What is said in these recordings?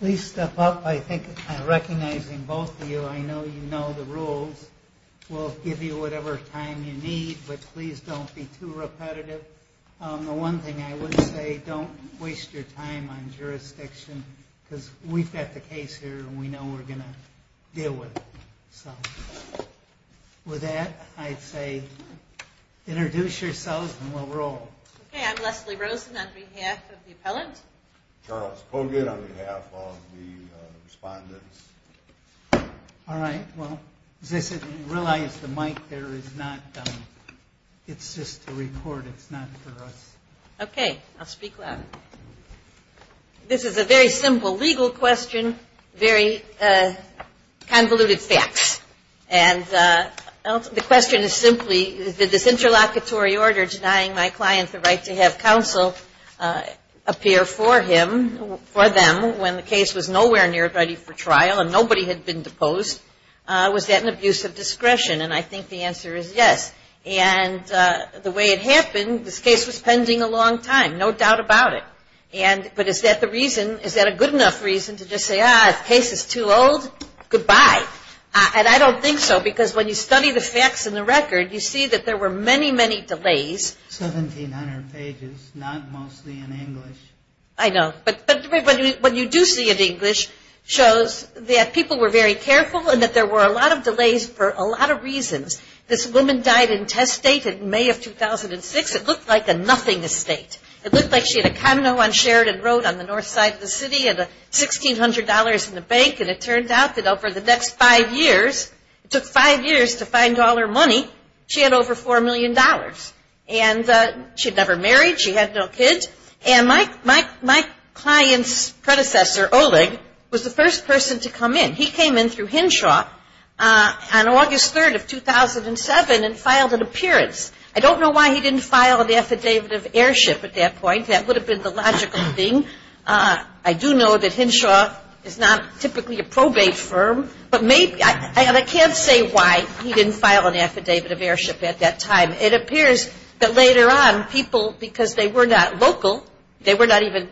Please step up. I think recognizing both of you, I know you know the rules. We'll give you whatever time you need, but please don't be too repetitive. The one thing I would say, don't waste your time on jurisdiction because we've got the case here and we know we're going to deal with it. With that, I'd say introduce yourselves and we'll roll. Okay, I'm Leslie Rosen on behalf of the appellant. Charles Kogut on behalf of the respondents. Alright, well, realize the mic there is not, it's just a report, it's not for us. Okay, I'll speak louder. This is a very simple legal question, very convoluted facts. And the question is simply, did this interlocutory order denying my client the right to have counsel appear for him, for them, when the case was nowhere near ready for trial and nobody had been deposed, was that an abuse of discretion? And I think the answer is yes. And the way it happened, this case was pending a long time, no doubt about it. But is that the reason, is that a good enough reason to just say, ah, the case is too old, goodbye. And I don't think so because when you study the facts in the record, you see that there were many, many delays. 1,700 pages, not mostly in English. I know. But what you do see in English shows that people were very careful and that there were a lot of delays for a lot of reasons. This woman died in test state in May of 2006. It looked like a nothing estate. It looked like she had a condo on Sheridan Road on the north side of the city and $1,600 in the bank. And it turned out that over the next five years, it took five years to find all her money, she had over $4 million. And she had never married. She had no kids. And my client's predecessor, Oleg, was the first person to come in. He came in through Henshaw on August 3rd of 2007 and filed an appearance. I don't know why he didn't file an affidavit of airship at that point. That would have been the logical thing. I do know that Henshaw is not typically a probate firm. But maybe, and I can't say why he didn't file an affidavit of airship at that time. It appears that later on, people, because they were not local, they were not even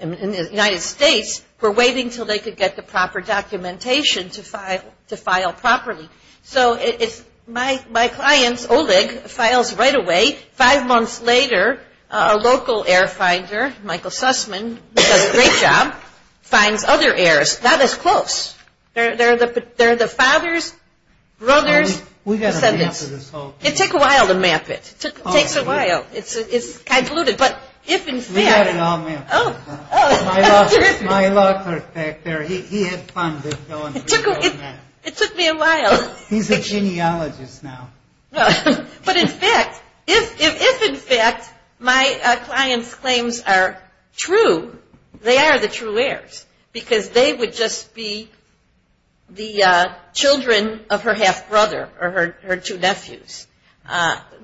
in the United States, were waiting until they could get the proper documentation to file properly. So my client, Oleg, files right away. Five months later, a local air finder, Michael Sussman, who does a great job, finds other heirs. Not as close. They're the father's brother's descendants. It took a while to map it. It takes a while. It's convoluted. We had it all mapped. My law clerk back there, he had fun with going through it all mapped. It took me a while. He's a genealogist now. But in fact, if in fact my client's claims are true, they are the true heirs, because they would just be the children of her half-brother or her two nephews.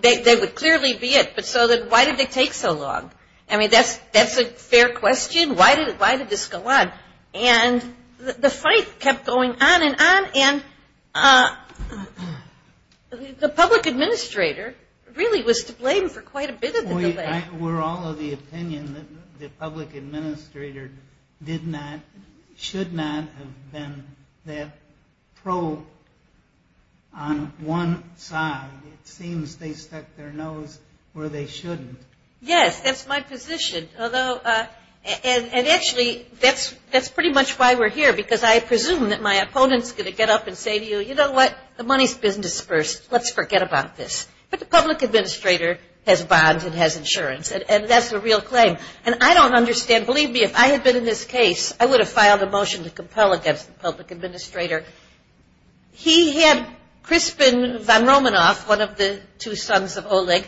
They would clearly be it. But so then why did they take so long? I mean, that's a fair question. Why did this go on? And the fight kept going on and on. And the public administrator really was to blame for quite a bit of the delay. We're all of the opinion that the public administrator did not, should not have been that pro on one side. It seems they stuck their nose where they shouldn't. Yes, that's my position. And actually, that's pretty much why we're here, because I presume that my opponent's going to get up and say to you, you know what, the money's business first. Let's forget about this. But the public administrator has bonds and has insurance. And that's a real claim. And I don't understand. Believe me, if I had been in this case, I would have filed a motion to compel against the public administrator. He had Crispin Von Romanoff, one of the two sons of Oleg,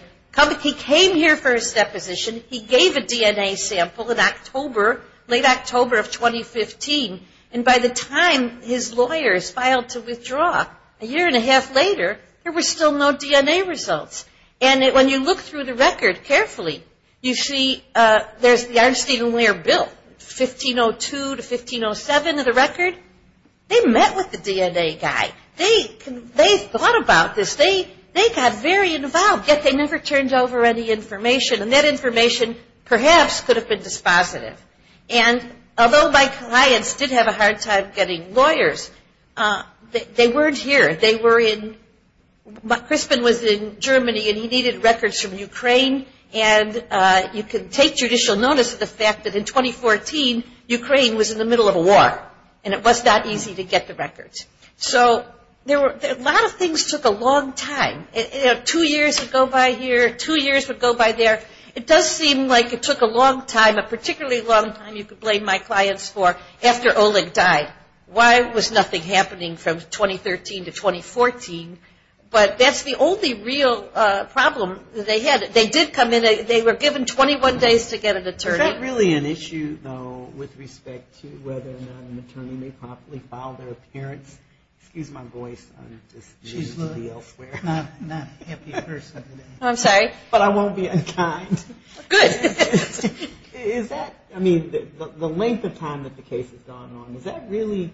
he came here for his deposition. He gave a DNA sample in October, late October of 2015. And by the time his lawyers filed to withdraw, a year and a half later, there were still no DNA results. And when you look through the record carefully, you see there's the Arnstein and Weir bill, 1502 to 1507 of the record. They met with the DNA guy. They thought about this. They got very involved, yet they never turned over any information. And that information perhaps could have been dispositive. And although my clients did have a hard time getting lawyers, they weren't here. Crispin was in Germany, and he needed records from Ukraine. And you can take judicial notice of the fact that in 2014, Ukraine was in the middle of a war, and it was not easy to get the records. So a lot of things took a long time. Two years would go by here, two years would go by there. It does seem like it took a long time, a particularly long time you could blame my clients for, after Oleg died. Why was nothing happening from 2013 to 2014? But that's the only real problem that they had. They did come in. They were given 21 days to get an attorney. Is that really an issue, though, with respect to whether or not an attorney may properly file their appearance? Excuse my voice. She's not a happy person. I'm sorry? But I won't be unkind. Good. Is that, I mean, the length of time that the case has gone on, was that really,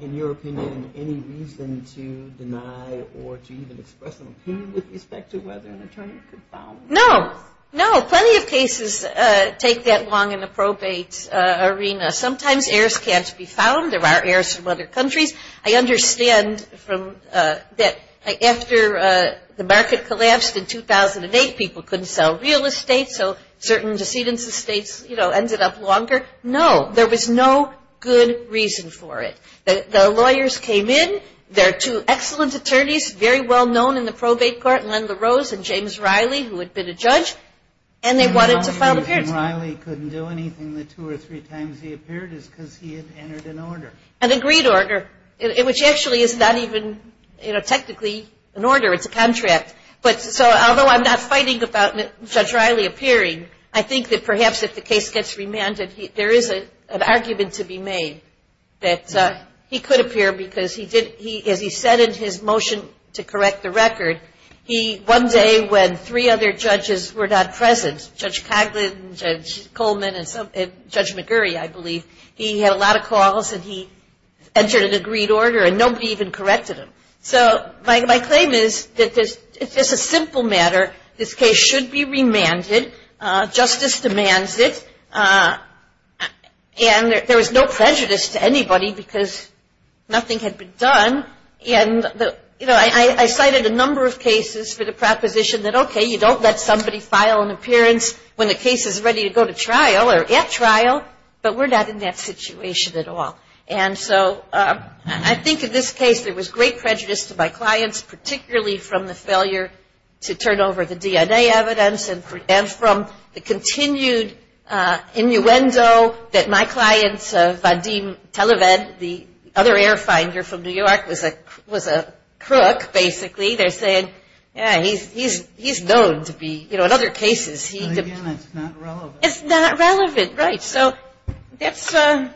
in your opinion, any reason to deny or to even express an opinion with respect to whether an attorney could file? No. No, plenty of cases take that long in the probate arena. Sometimes heirs can't be found. There are heirs from other countries. I understand that after the market collapsed in 2008, people couldn't sell real estate, so certain decedents' estates ended up longer. No, there was no good reason for it. The lawyers came in. There are two excellent attorneys, very well-known in the probate court, Len LaRose and James Riley, who had been a judge, and they wanted to file an appearance. The only reason Riley couldn't do anything the two or three times he appeared is because he had entered an order. An agreed order, which actually is not even technically an order. It's a contract. So although I'm not fighting about Judge Riley appearing, I think that perhaps if the case gets remanded there is an argument to be made that he could appear because, as he said in his motion to correct the record, one day when three other judges were not present, Judge Coghlan, Judge Coleman, and Judge McGurry, I believe, he had a lot of calls and he entered an agreed order and nobody even corrected him. So my claim is that if it's a simple matter, this case should be remanded. Justice demands it. And there was no prejudice to anybody because nothing had been done. And, you know, I cited a number of cases for the proposition that, okay, you don't let somebody file an appearance when the case is ready to go to trial or at trial, but we're not in that situation at all. And so I think in this case there was great prejudice to my clients, particularly from the failure to turn over the DNA evidence and from the continued innuendo that my clients, Vadim Televed, the other air finder from New York, was a crook, basically. They're saying, yeah, he's known to be, you know, in other cases. But, again, it's not relevant. It's not relevant, right. So I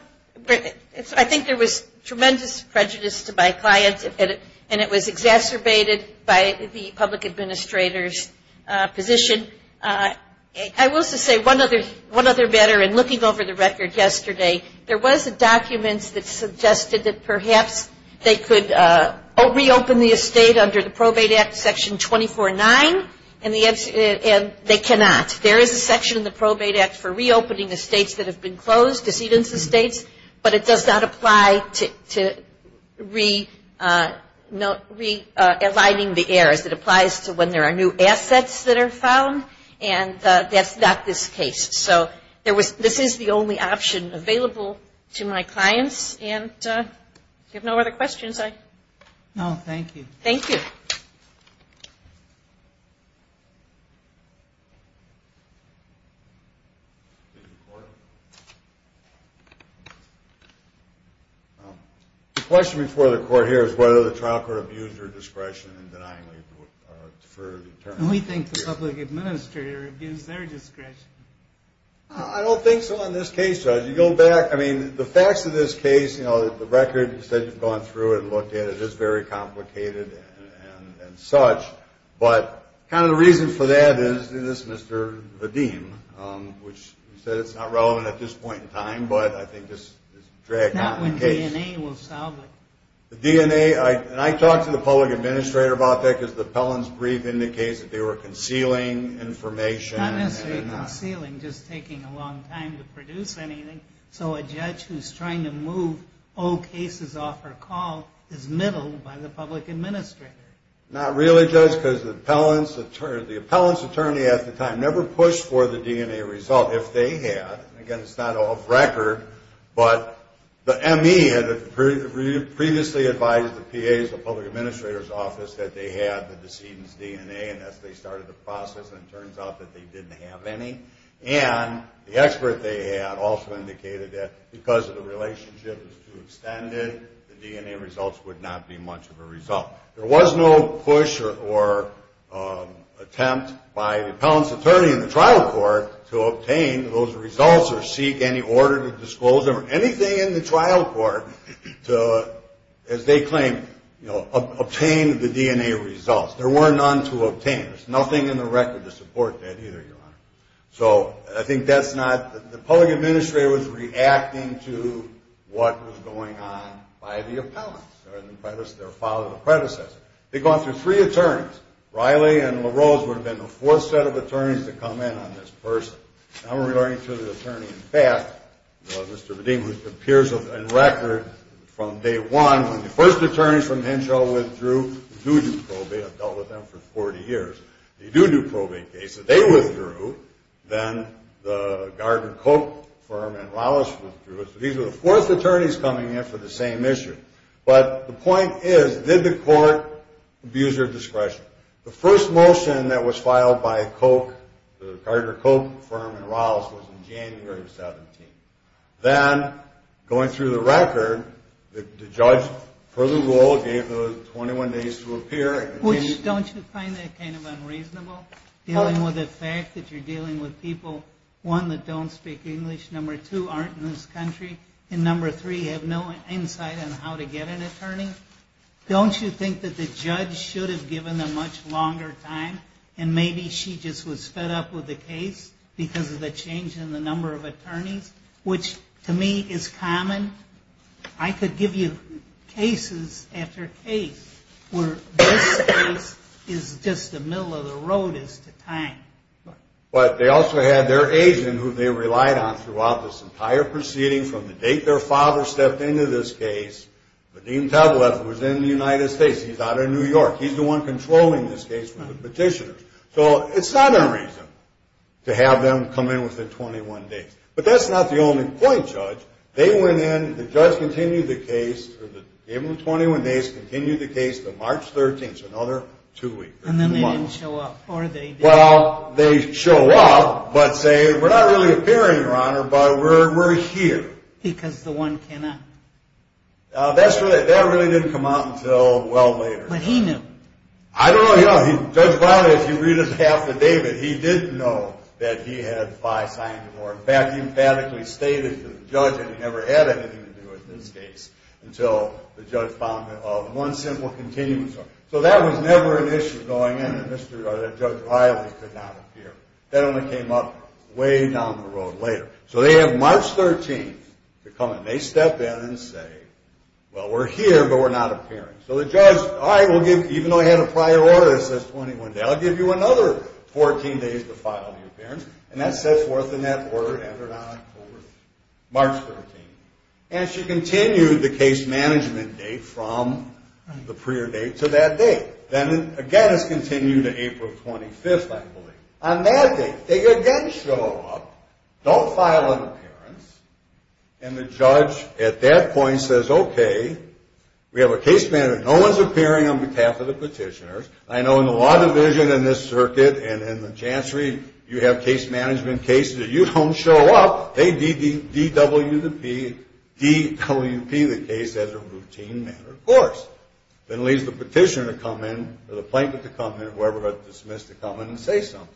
think there was tremendous prejudice to my clients, and it was exacerbated by the public administrator's position. I will just say one other matter. In looking over the record yesterday, there was a document that suggested that perhaps they could reopen the estate under the Probate Act Section 24-9, and they cannot. There is a section in the Probate Act for reopening estates that have been closed, decedent estates, but it does not apply to realigning the heirs. It applies to when there are new assets that are found, and that's not this case. So this is the only option available to my clients. And if you have no other questions, I – No, thank you. Thank you. The question before the court here is whether the trial court abused her discretion in denying labor for the attorney. We think the public administrator abused their discretion. I don't think so in this case, Judge. You go back – I mean, the facts of this case, you know, the record, you said you've gone through it and looked at it. It is very complicated and such. But kind of the reason for that is this Mr. Vadim, which said it's not relevant at this point in time, but I think this is dragging on the case. Not when DNA will solve it. The DNA – and I talked to the public administrator about that because the appellant's brief indicates that they were concealing information. Not necessarily concealing, just taking a long time to produce anything. So a judge who's trying to move old cases off her call is middled by the public administrator. Not really, Judge, because the appellant's attorney at the time never pushed for the DNA result, if they had. Again, it's not off record, but the ME had previously advised the PAs, the public administrator's office, that they had the decedent's DNA. And as they started the process, it turns out that they didn't have any. And the expert they had also indicated that because the relationship was too extended, the DNA results would not be much of a result. There was no push or attempt by the appellant's attorney in the trial court to obtain those results or seek any order to disclose them, or anything in the trial court to, as they claim, obtain the DNA results. There were none to obtain. There's nothing in the record to support that either, Your Honor. So I think that's not—the public administrator was reacting to what was going on by the appellant or their father or predecessor. They'd gone through three attorneys. Riley and LaRose would have been the fourth set of attorneys to come in on this person. And I'm referring to the attorney in fact, Mr. Vadim, who appears on record from day one, when the first attorneys from Henshaw withdrew, they do do probate. I've dealt with them for 40 years. They do do probate cases. They withdrew. Then the Gardner-Koch firm and Rallis withdrew. So these were the fourth attorneys coming in for the same issue. But the point is, did the court abuse their discretion? The first motion that was filed by Koch, the Gardner-Koch firm and Rallis, was in January of 17. Then, going through the record, the judge, per the rule, gave those 21 days to appear. Don't you find that kind of unreasonable, dealing with the fact that you're dealing with people, one, that don't speak English, number two, aren't in this country, and number three, have no insight on how to get an attorney? Don't you think that the judge should have given them much longer time and maybe she just was fed up with the case because of the change in the number of attorneys, which, to me, is common? I could give you cases after case where this case is just the middle of the road as to time. But they also had their agent, who they relied on throughout this entire proceeding, from the date their father stepped into this case. Vadim Tavalev was in the United States. He's out of New York. He's the one controlling this case for the petitioners. So it's not unreasonable to have them come in within 21 days. But that's not the only point, Judge. They went in, the judge continued the case for the 21 days, continued the case to March 13th, another two weeks. And then they didn't show up, or they did? Well, they show up, but say, we're not really appearing, Your Honor, but we're here. Because the one cannot? That really didn't come out until well later. When he knew? I don't know. Judge Viale, if you read his affidavit, he did know that he had five signs of war. In fact, he emphatically stated to the judge that he never had anything to do with this case until the judge found one simple continuum. So that was never an issue going in, that Judge Viale could not appear. That only came up way down the road later. So they have March 13th to come in. They step in and say, well, we're here, but we're not appearing. So the judge, all right, even though I had a prior order that says 21 days, I'll give you another 14 days to file an appearance, and that sets forth in that order, enter it on October 13th, March 13th. And she continued the case management date from the prior date to that date. Then, again, it's continued to April 25th, I believe. On that date, they again show up, don't file an appearance, and the judge at that point says, okay, we have a case manager. No one's appearing on behalf of the petitioners. I know in the law division in this circuit and in the chancery, you have case management cases that you don't show up. They DWP the case as a routine matter, of course. That leaves the petitioner to come in or the plaintiff to come in or whoever got dismissed to come in and say something.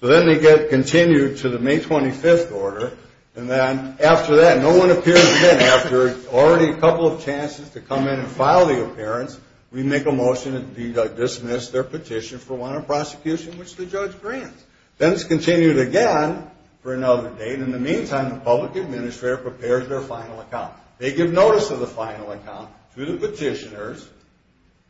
So then they get continued to the May 25th order. And then after that, no one appears again. After already a couple of chances to come in and file the appearance, we make a motion to dismiss their petition for warrant of prosecution, which the judge grants. Then it's continued again for another date. In the meantime, the public administrator prepares their final account. They give notice of the final account to the petitioners,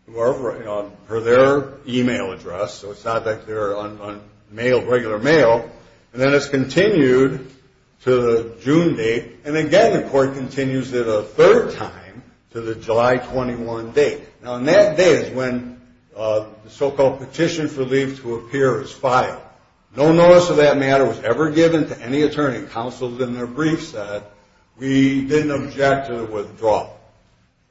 per their e-mail address. So it's not like they're on regular mail. And then it's continued to the June date. And, again, the court continues it a third time to the July 21 date. Now, on that day is when the so-called petition for leave to appear is filed. No notice of that matter was ever given to any attorney. Counsel in their brief said, we didn't object to the withdrawal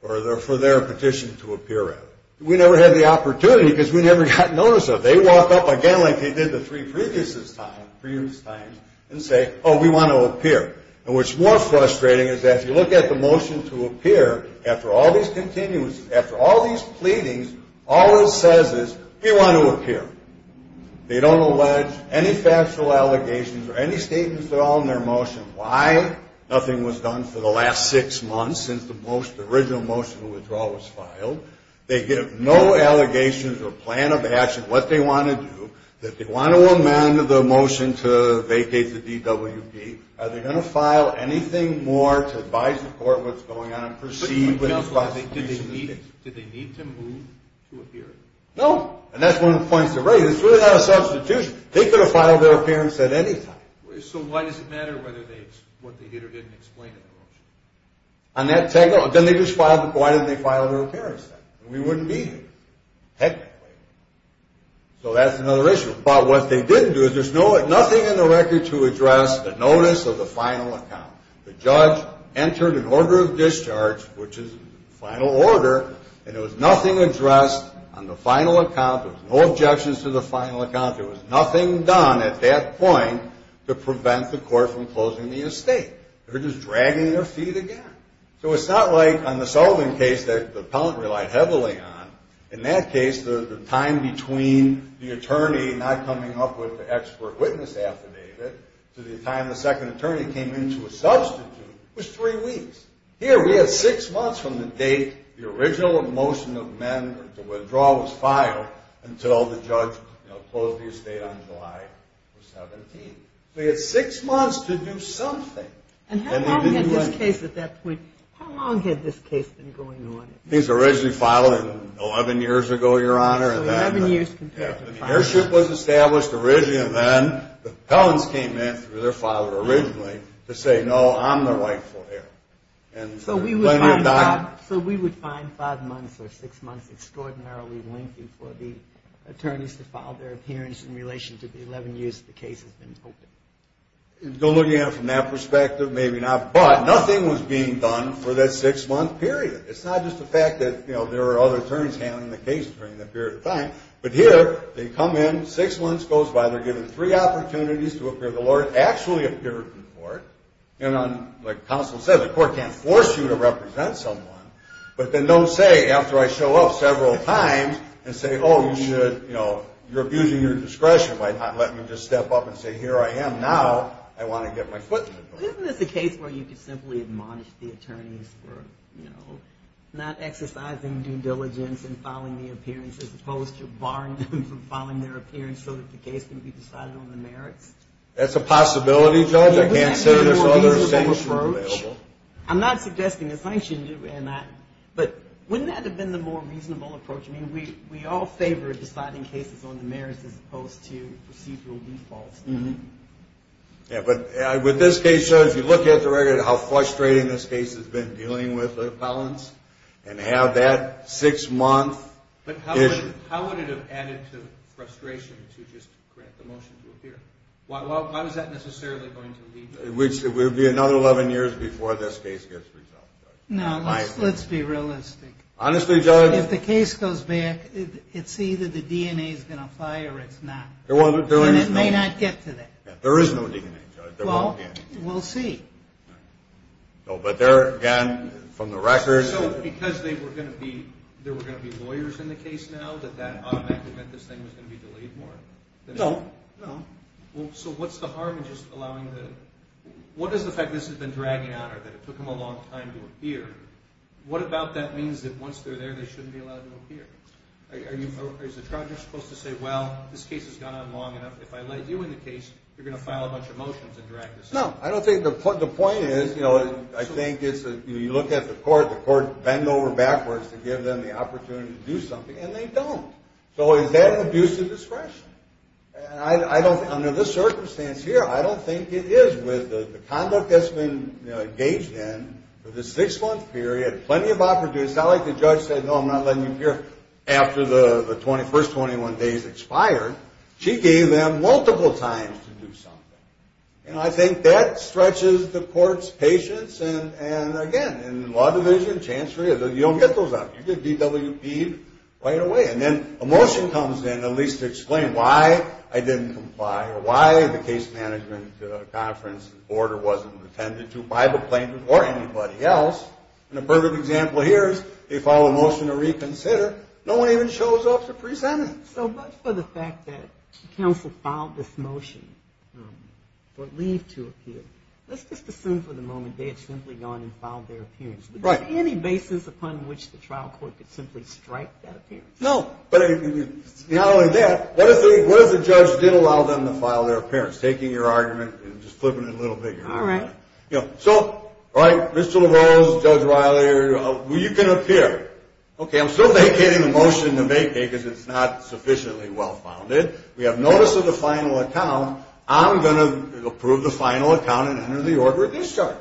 for their petition to appear at. We never had the opportunity because we never got notice of it. They walk up again like they did the three previous times and say, oh, we want to appear. And what's more frustrating is that if you look at the motion to appear, after all these continuances, after all these pleadings, all it says is, we want to appear. They don't allege any factual allegations or any statements at all in their motion. Why? Nothing was done for the last six months since the original motion of withdrawal was filed. They give no allegations or plan of action what they want to do. If they want to amend the motion to vacate the DWP, are they going to file anything more to advise the court what's going on and proceed with the prosecution? Did they need to move to appear? No. And that's one of the points they raise. It's really not a substitution. They could have filed their appearance at any time. So why does it matter what they did or didn't explain in the motion? Then they just filed it. Why didn't they file their appearance then? We wouldn't be here, technically. So that's another issue. But what they didn't do is there's nothing in the record to address the notice of the final account. The judge entered an order of discharge, which is the final order, and there was nothing addressed on the final account. There was no objections to the final account. There was nothing done at that point to prevent the court from closing the estate. They were just dragging their feet again. So it's not like on the Sullivan case that the appellant relied heavily on. In that case, the time between the attorney not coming up with the expert witness affidavit to the time the second attorney came in to a substitute was three weeks. Here we have six months from the date the original motion of men to withdraw was filed until the judge closed the estate on July 17th. They had six months to do something. And how long had this case at that point been going on? It was originally filed 11 years ago, Your Honor. So 11 years compared to five. When the heirship was established originally and then, the appellants came in through their father originally to say, no, I'm the rightful heir. So we would find five months or six months extraordinarily lengthy for the attorneys to file their appearance in relation to the 11 years the case has been open? Don't look at it from that perspective. Maybe not. But nothing was being done for that six-month period. It's not just the fact that, you know, there are other attorneys handling the case during that period of time. But here, they come in, six months goes by, they're given three opportunities to appear before the Lord, and like counsel said, the court can't force you to represent someone. But then don't say, after I show up several times, and say, oh, you should, you know, you're abusing your discretion by letting me just step up and say, here I am now, I want to get my foot in the door. Isn't this a case where you could simply admonish the attorneys for, you know, not exercising due diligence in filing the appearance, as opposed to barring them from filing their appearance so that the case can be decided on the merits? That's a possibility, Judge. I can't say there's other sanctions available. Wouldn't that have been a more reasonable approach? I'm not suggesting a sanction, and I'm not. But wouldn't that have been the more reasonable approach? I mean, we all favor deciding cases on the merits as opposed to procedural defaults. Yeah, but with this case, Judge, you look at the record of how frustrating this case has been dealing with appellants and have that six-month issue. But how would it have added to the frustration to just grant the motion to appear? Why was that necessarily going to lead to this? It would be another 11 years before this case gets resolved, Judge. No, let's be realistic. Honestly, Judge? If the case goes back, it's either the DNA is going to fire or it's not. And it may not get to that. There is no DNA, Judge. Well, we'll see. But there again, from the record. So because there were going to be lawyers in the case now, did you feel that that automatically meant this thing was going to be delayed more? No, no. So what's the harm in just allowing the – what is the fact that this has been dragging on or that it took them a long time to appear? What about that means that once they're there, they shouldn't be allowed to appear? Is the charge, you're supposed to say, well, this case has gone on long enough. If I let you in the case, you're going to file a bunch of motions and drag this on? No, I don't think – the point is, you know, I think it's – you look at the court, the courts bend over backwards to give them the opportunity to do something, and they don't. So is that an abuse of discretion? And I don't – under this circumstance here, I don't think it is with the conduct that's been engaged in for the six-month period, plenty of opportunity – it's not like the judge said, no, I'm not letting you appear after the first 21 days expired. She gave them multiple times to do something. And I think that stretches the court's patience and, again, in the law division, chancery, you don't get those out. You get DWP'd right away. And then a motion comes in at least to explain why I didn't comply or why the case management conference order wasn't attended to by the plaintiff or anybody else. And a perfect example here is they file a motion to reconsider. No one even shows up to present it. So much for the fact that counsel filed this motion for leave to appear. Let's just assume for the moment they had simply gone and filed their appearance. Right. Is there any basis upon which the trial court could simply strike that appearance? No. But not only that, what if the judge did allow them to file their appearance? Taking your argument and just flipping it a little bigger. All right. So, right, Mr. LaRose, Judge Riley, you can appear. Okay, I'm still vacating the motion to vacate because it's not sufficiently well-founded. We have notice of the final account. I'm going to approve the final account and enter the order of discharge.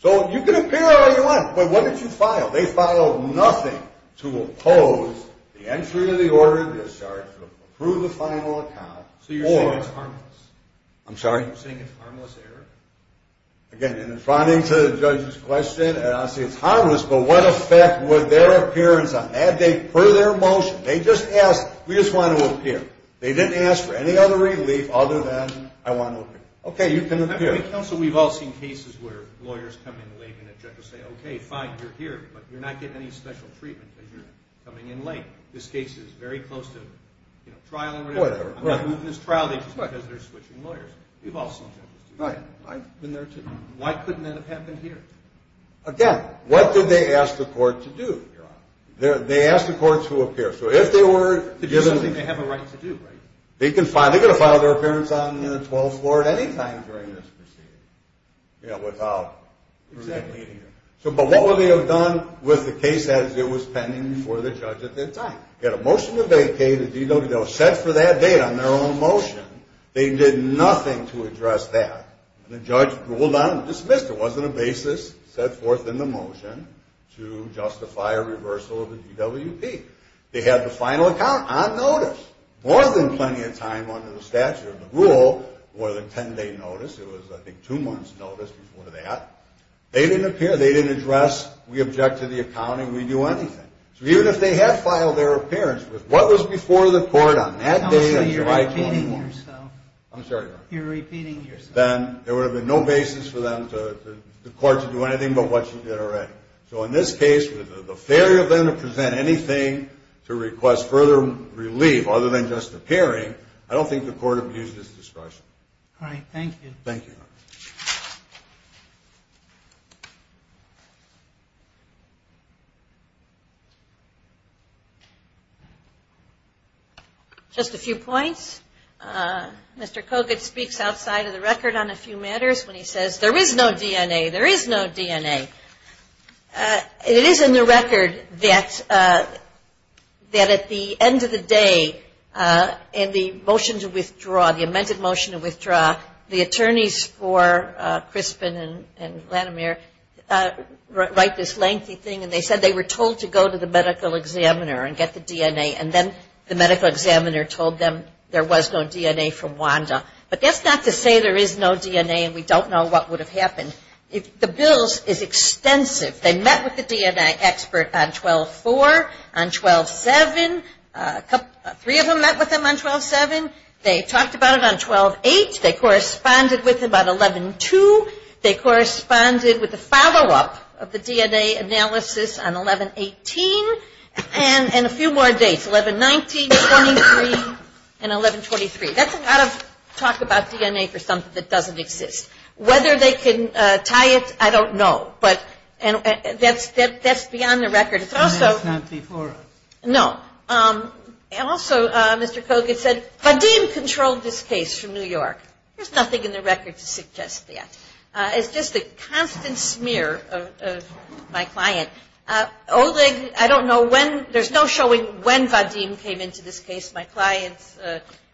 So you can appear all you want, but what did you file? They filed nothing to oppose the entry of the order of discharge, to approve the final account. So you're saying it's harmless? I'm sorry? You're saying it's a harmless error? Again, in responding to the judge's question, I say it's harmless, but what effect would their appearance have? Had they put their motion, they just asked, we just want to appear. They didn't ask for any other relief other than I want to appear. Okay, you can appear. So we've all seen cases where lawyers come in late and the judge will say, okay, fine, you're here, but you're not getting any special treatment because you're coming in late. This case is very close to trial or whatever. I'm not moving this trial just because they're switching lawyers. We've all seen judges do that. Right. I've been there, too. Why couldn't that have happened here? Again, what did they ask the court to do? They asked the court to appear. It's just something they have a right to do, right? They can file their appearance on the 12th floor at any time during this proceeding. Yeah, without. Exactly. But what would they have done with the case as it was pending before the judge at that time? Get a motion to vacate a DWP. They'll set for that date on their own motion. They did nothing to address that. The judge ruled on it and dismissed it. It wasn't a basis set forth in the motion to justify a reversal of the DWP. They had the final account on notice more than plenty of time under the statute of the rule, more than a 10-day notice. It was, I think, two months' notice before that. They didn't appear. They didn't address, we object to the accounting, we do anything. So even if they had filed their appearance with what was before the court on that day on July 24th, You're repeating yourself. I'm sorry? You're repeating yourself. then there would have been no basis for the court to do anything but what you did already. So in this case, with the failure then to present anything to request further relief other than just appearing, I don't think the court would use this discretion. All right. Thank you. Thank you. Just a few points. Mr. Kogut speaks outside of the record on a few matters when he says there is no DNA. There is no DNA. It is in the record that at the end of the day in the motion to withdraw, the amended motion to withdraw, the attorneys for Crispin and Lanimir write this lengthy thing, and they said they were told to go to the medical examiner and get the DNA, and then the medical examiner told them there was no DNA from Wanda. But that's not to say there is no DNA and we don't know what would have happened. The bill is extensive. They met with the DNA expert on 12-4, on 12-7. Three of them met with him on 12-7. They talked about it on 12-8. They corresponded with him on 11-2. They corresponded with the follow-up of the DNA analysis on 11-18, and a few more dates. 11-19, 11-23, and 11-23. That's a lot of talk about DNA for something that doesn't exist. Whether they can tie it, I don't know, but that's beyond the record. And that's not before us. No. And also, Mr. Kogut said, Vadim controlled this case from New York. There's nothing in the record to suggest that. It's just a constant smear of my client. Oleg, I don't know when, there's no showing when Vadim came into this case. My client's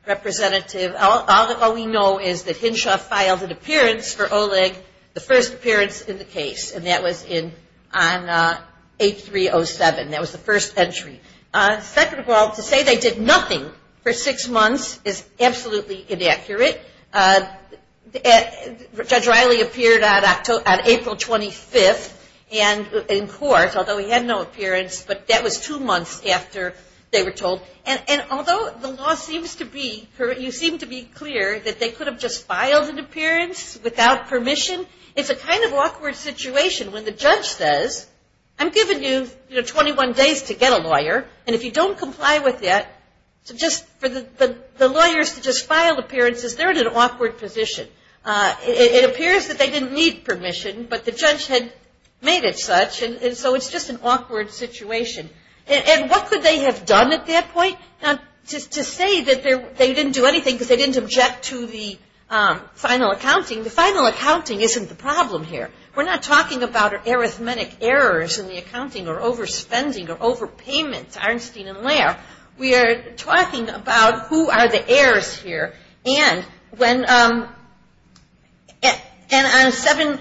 representative. All we know is that Hinshaw filed an appearance for Oleg, the first appearance in the case, and that was on 8-3-0-7. That was the first entry. Second of all, to say they did nothing for six months is absolutely inaccurate. Judge Riley appeared on April 25th in court, although he had no appearance, but that was two months after they were told. And although the law seems to be, you seem to be clear that they could have just filed an appearance without permission, it's a kind of awkward situation when the judge says, I'm giving you 21 days to get a lawyer, and if you don't comply with it, just for the lawyers to just file appearances, they're in an awkward position. It appears that they didn't need permission, but the judge had made it such, and so it's just an awkward situation. And what could they have done at that point? To say that they didn't do anything because they didn't object to the final accounting, the final accounting isn't the problem here. We're not talking about arithmetic errors in the accounting or overspending or overpayments, Arnstein and Lair. We are talking about who are the errors here. And when on 7-21,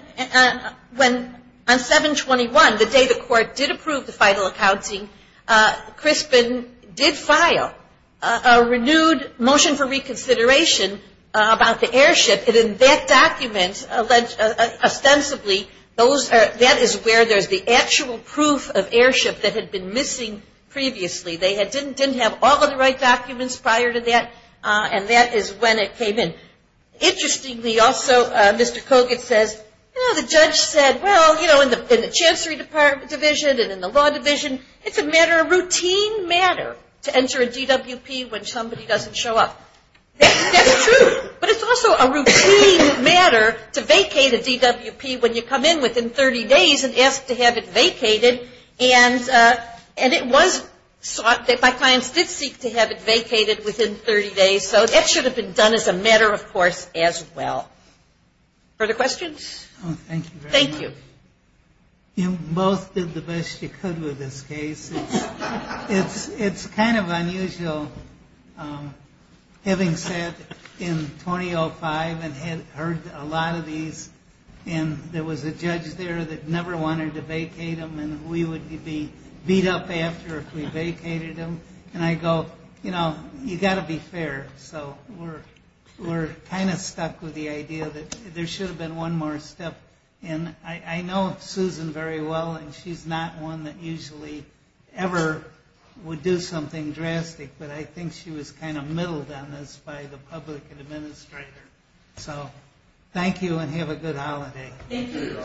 the day the court did approve the final accounting, Crispin did file a renewed motion for reconsideration about the airship, and in that document ostensibly that is where there's the actual proof of airship that had been missing previously. They didn't have all of the right documents prior to that, and that is when it came in. Interestingly also, Mr. Kogut says, you know, the judge said, well, you know, in the chancery department division and in the law division, it's a matter of routine matter to enter a DWP when somebody doesn't show up. That's true, but it's also a routine matter to vacate a DWP when you come in within 30 days and ask to have it vacated, and it was sought that my clients did seek to have it vacated within 30 days. So that should have been done as a matter of course as well. Further questions? Thank you very much. Thank you. You both did the best you could with this case. It's kind of unusual having sat in 2005 and had heard a lot of these, and there was a judge there that never wanted to vacate him, and we would be beat up after if we vacated him. And I go, you know, you've got to be fair. So we're kind of stuck with the idea that there should have been one more step. And I know Susan very well, and she's not one that usually ever would do something drastic, but I think she was kind of middled on this by the public administrator. So thank you and have a good holiday. Thank you.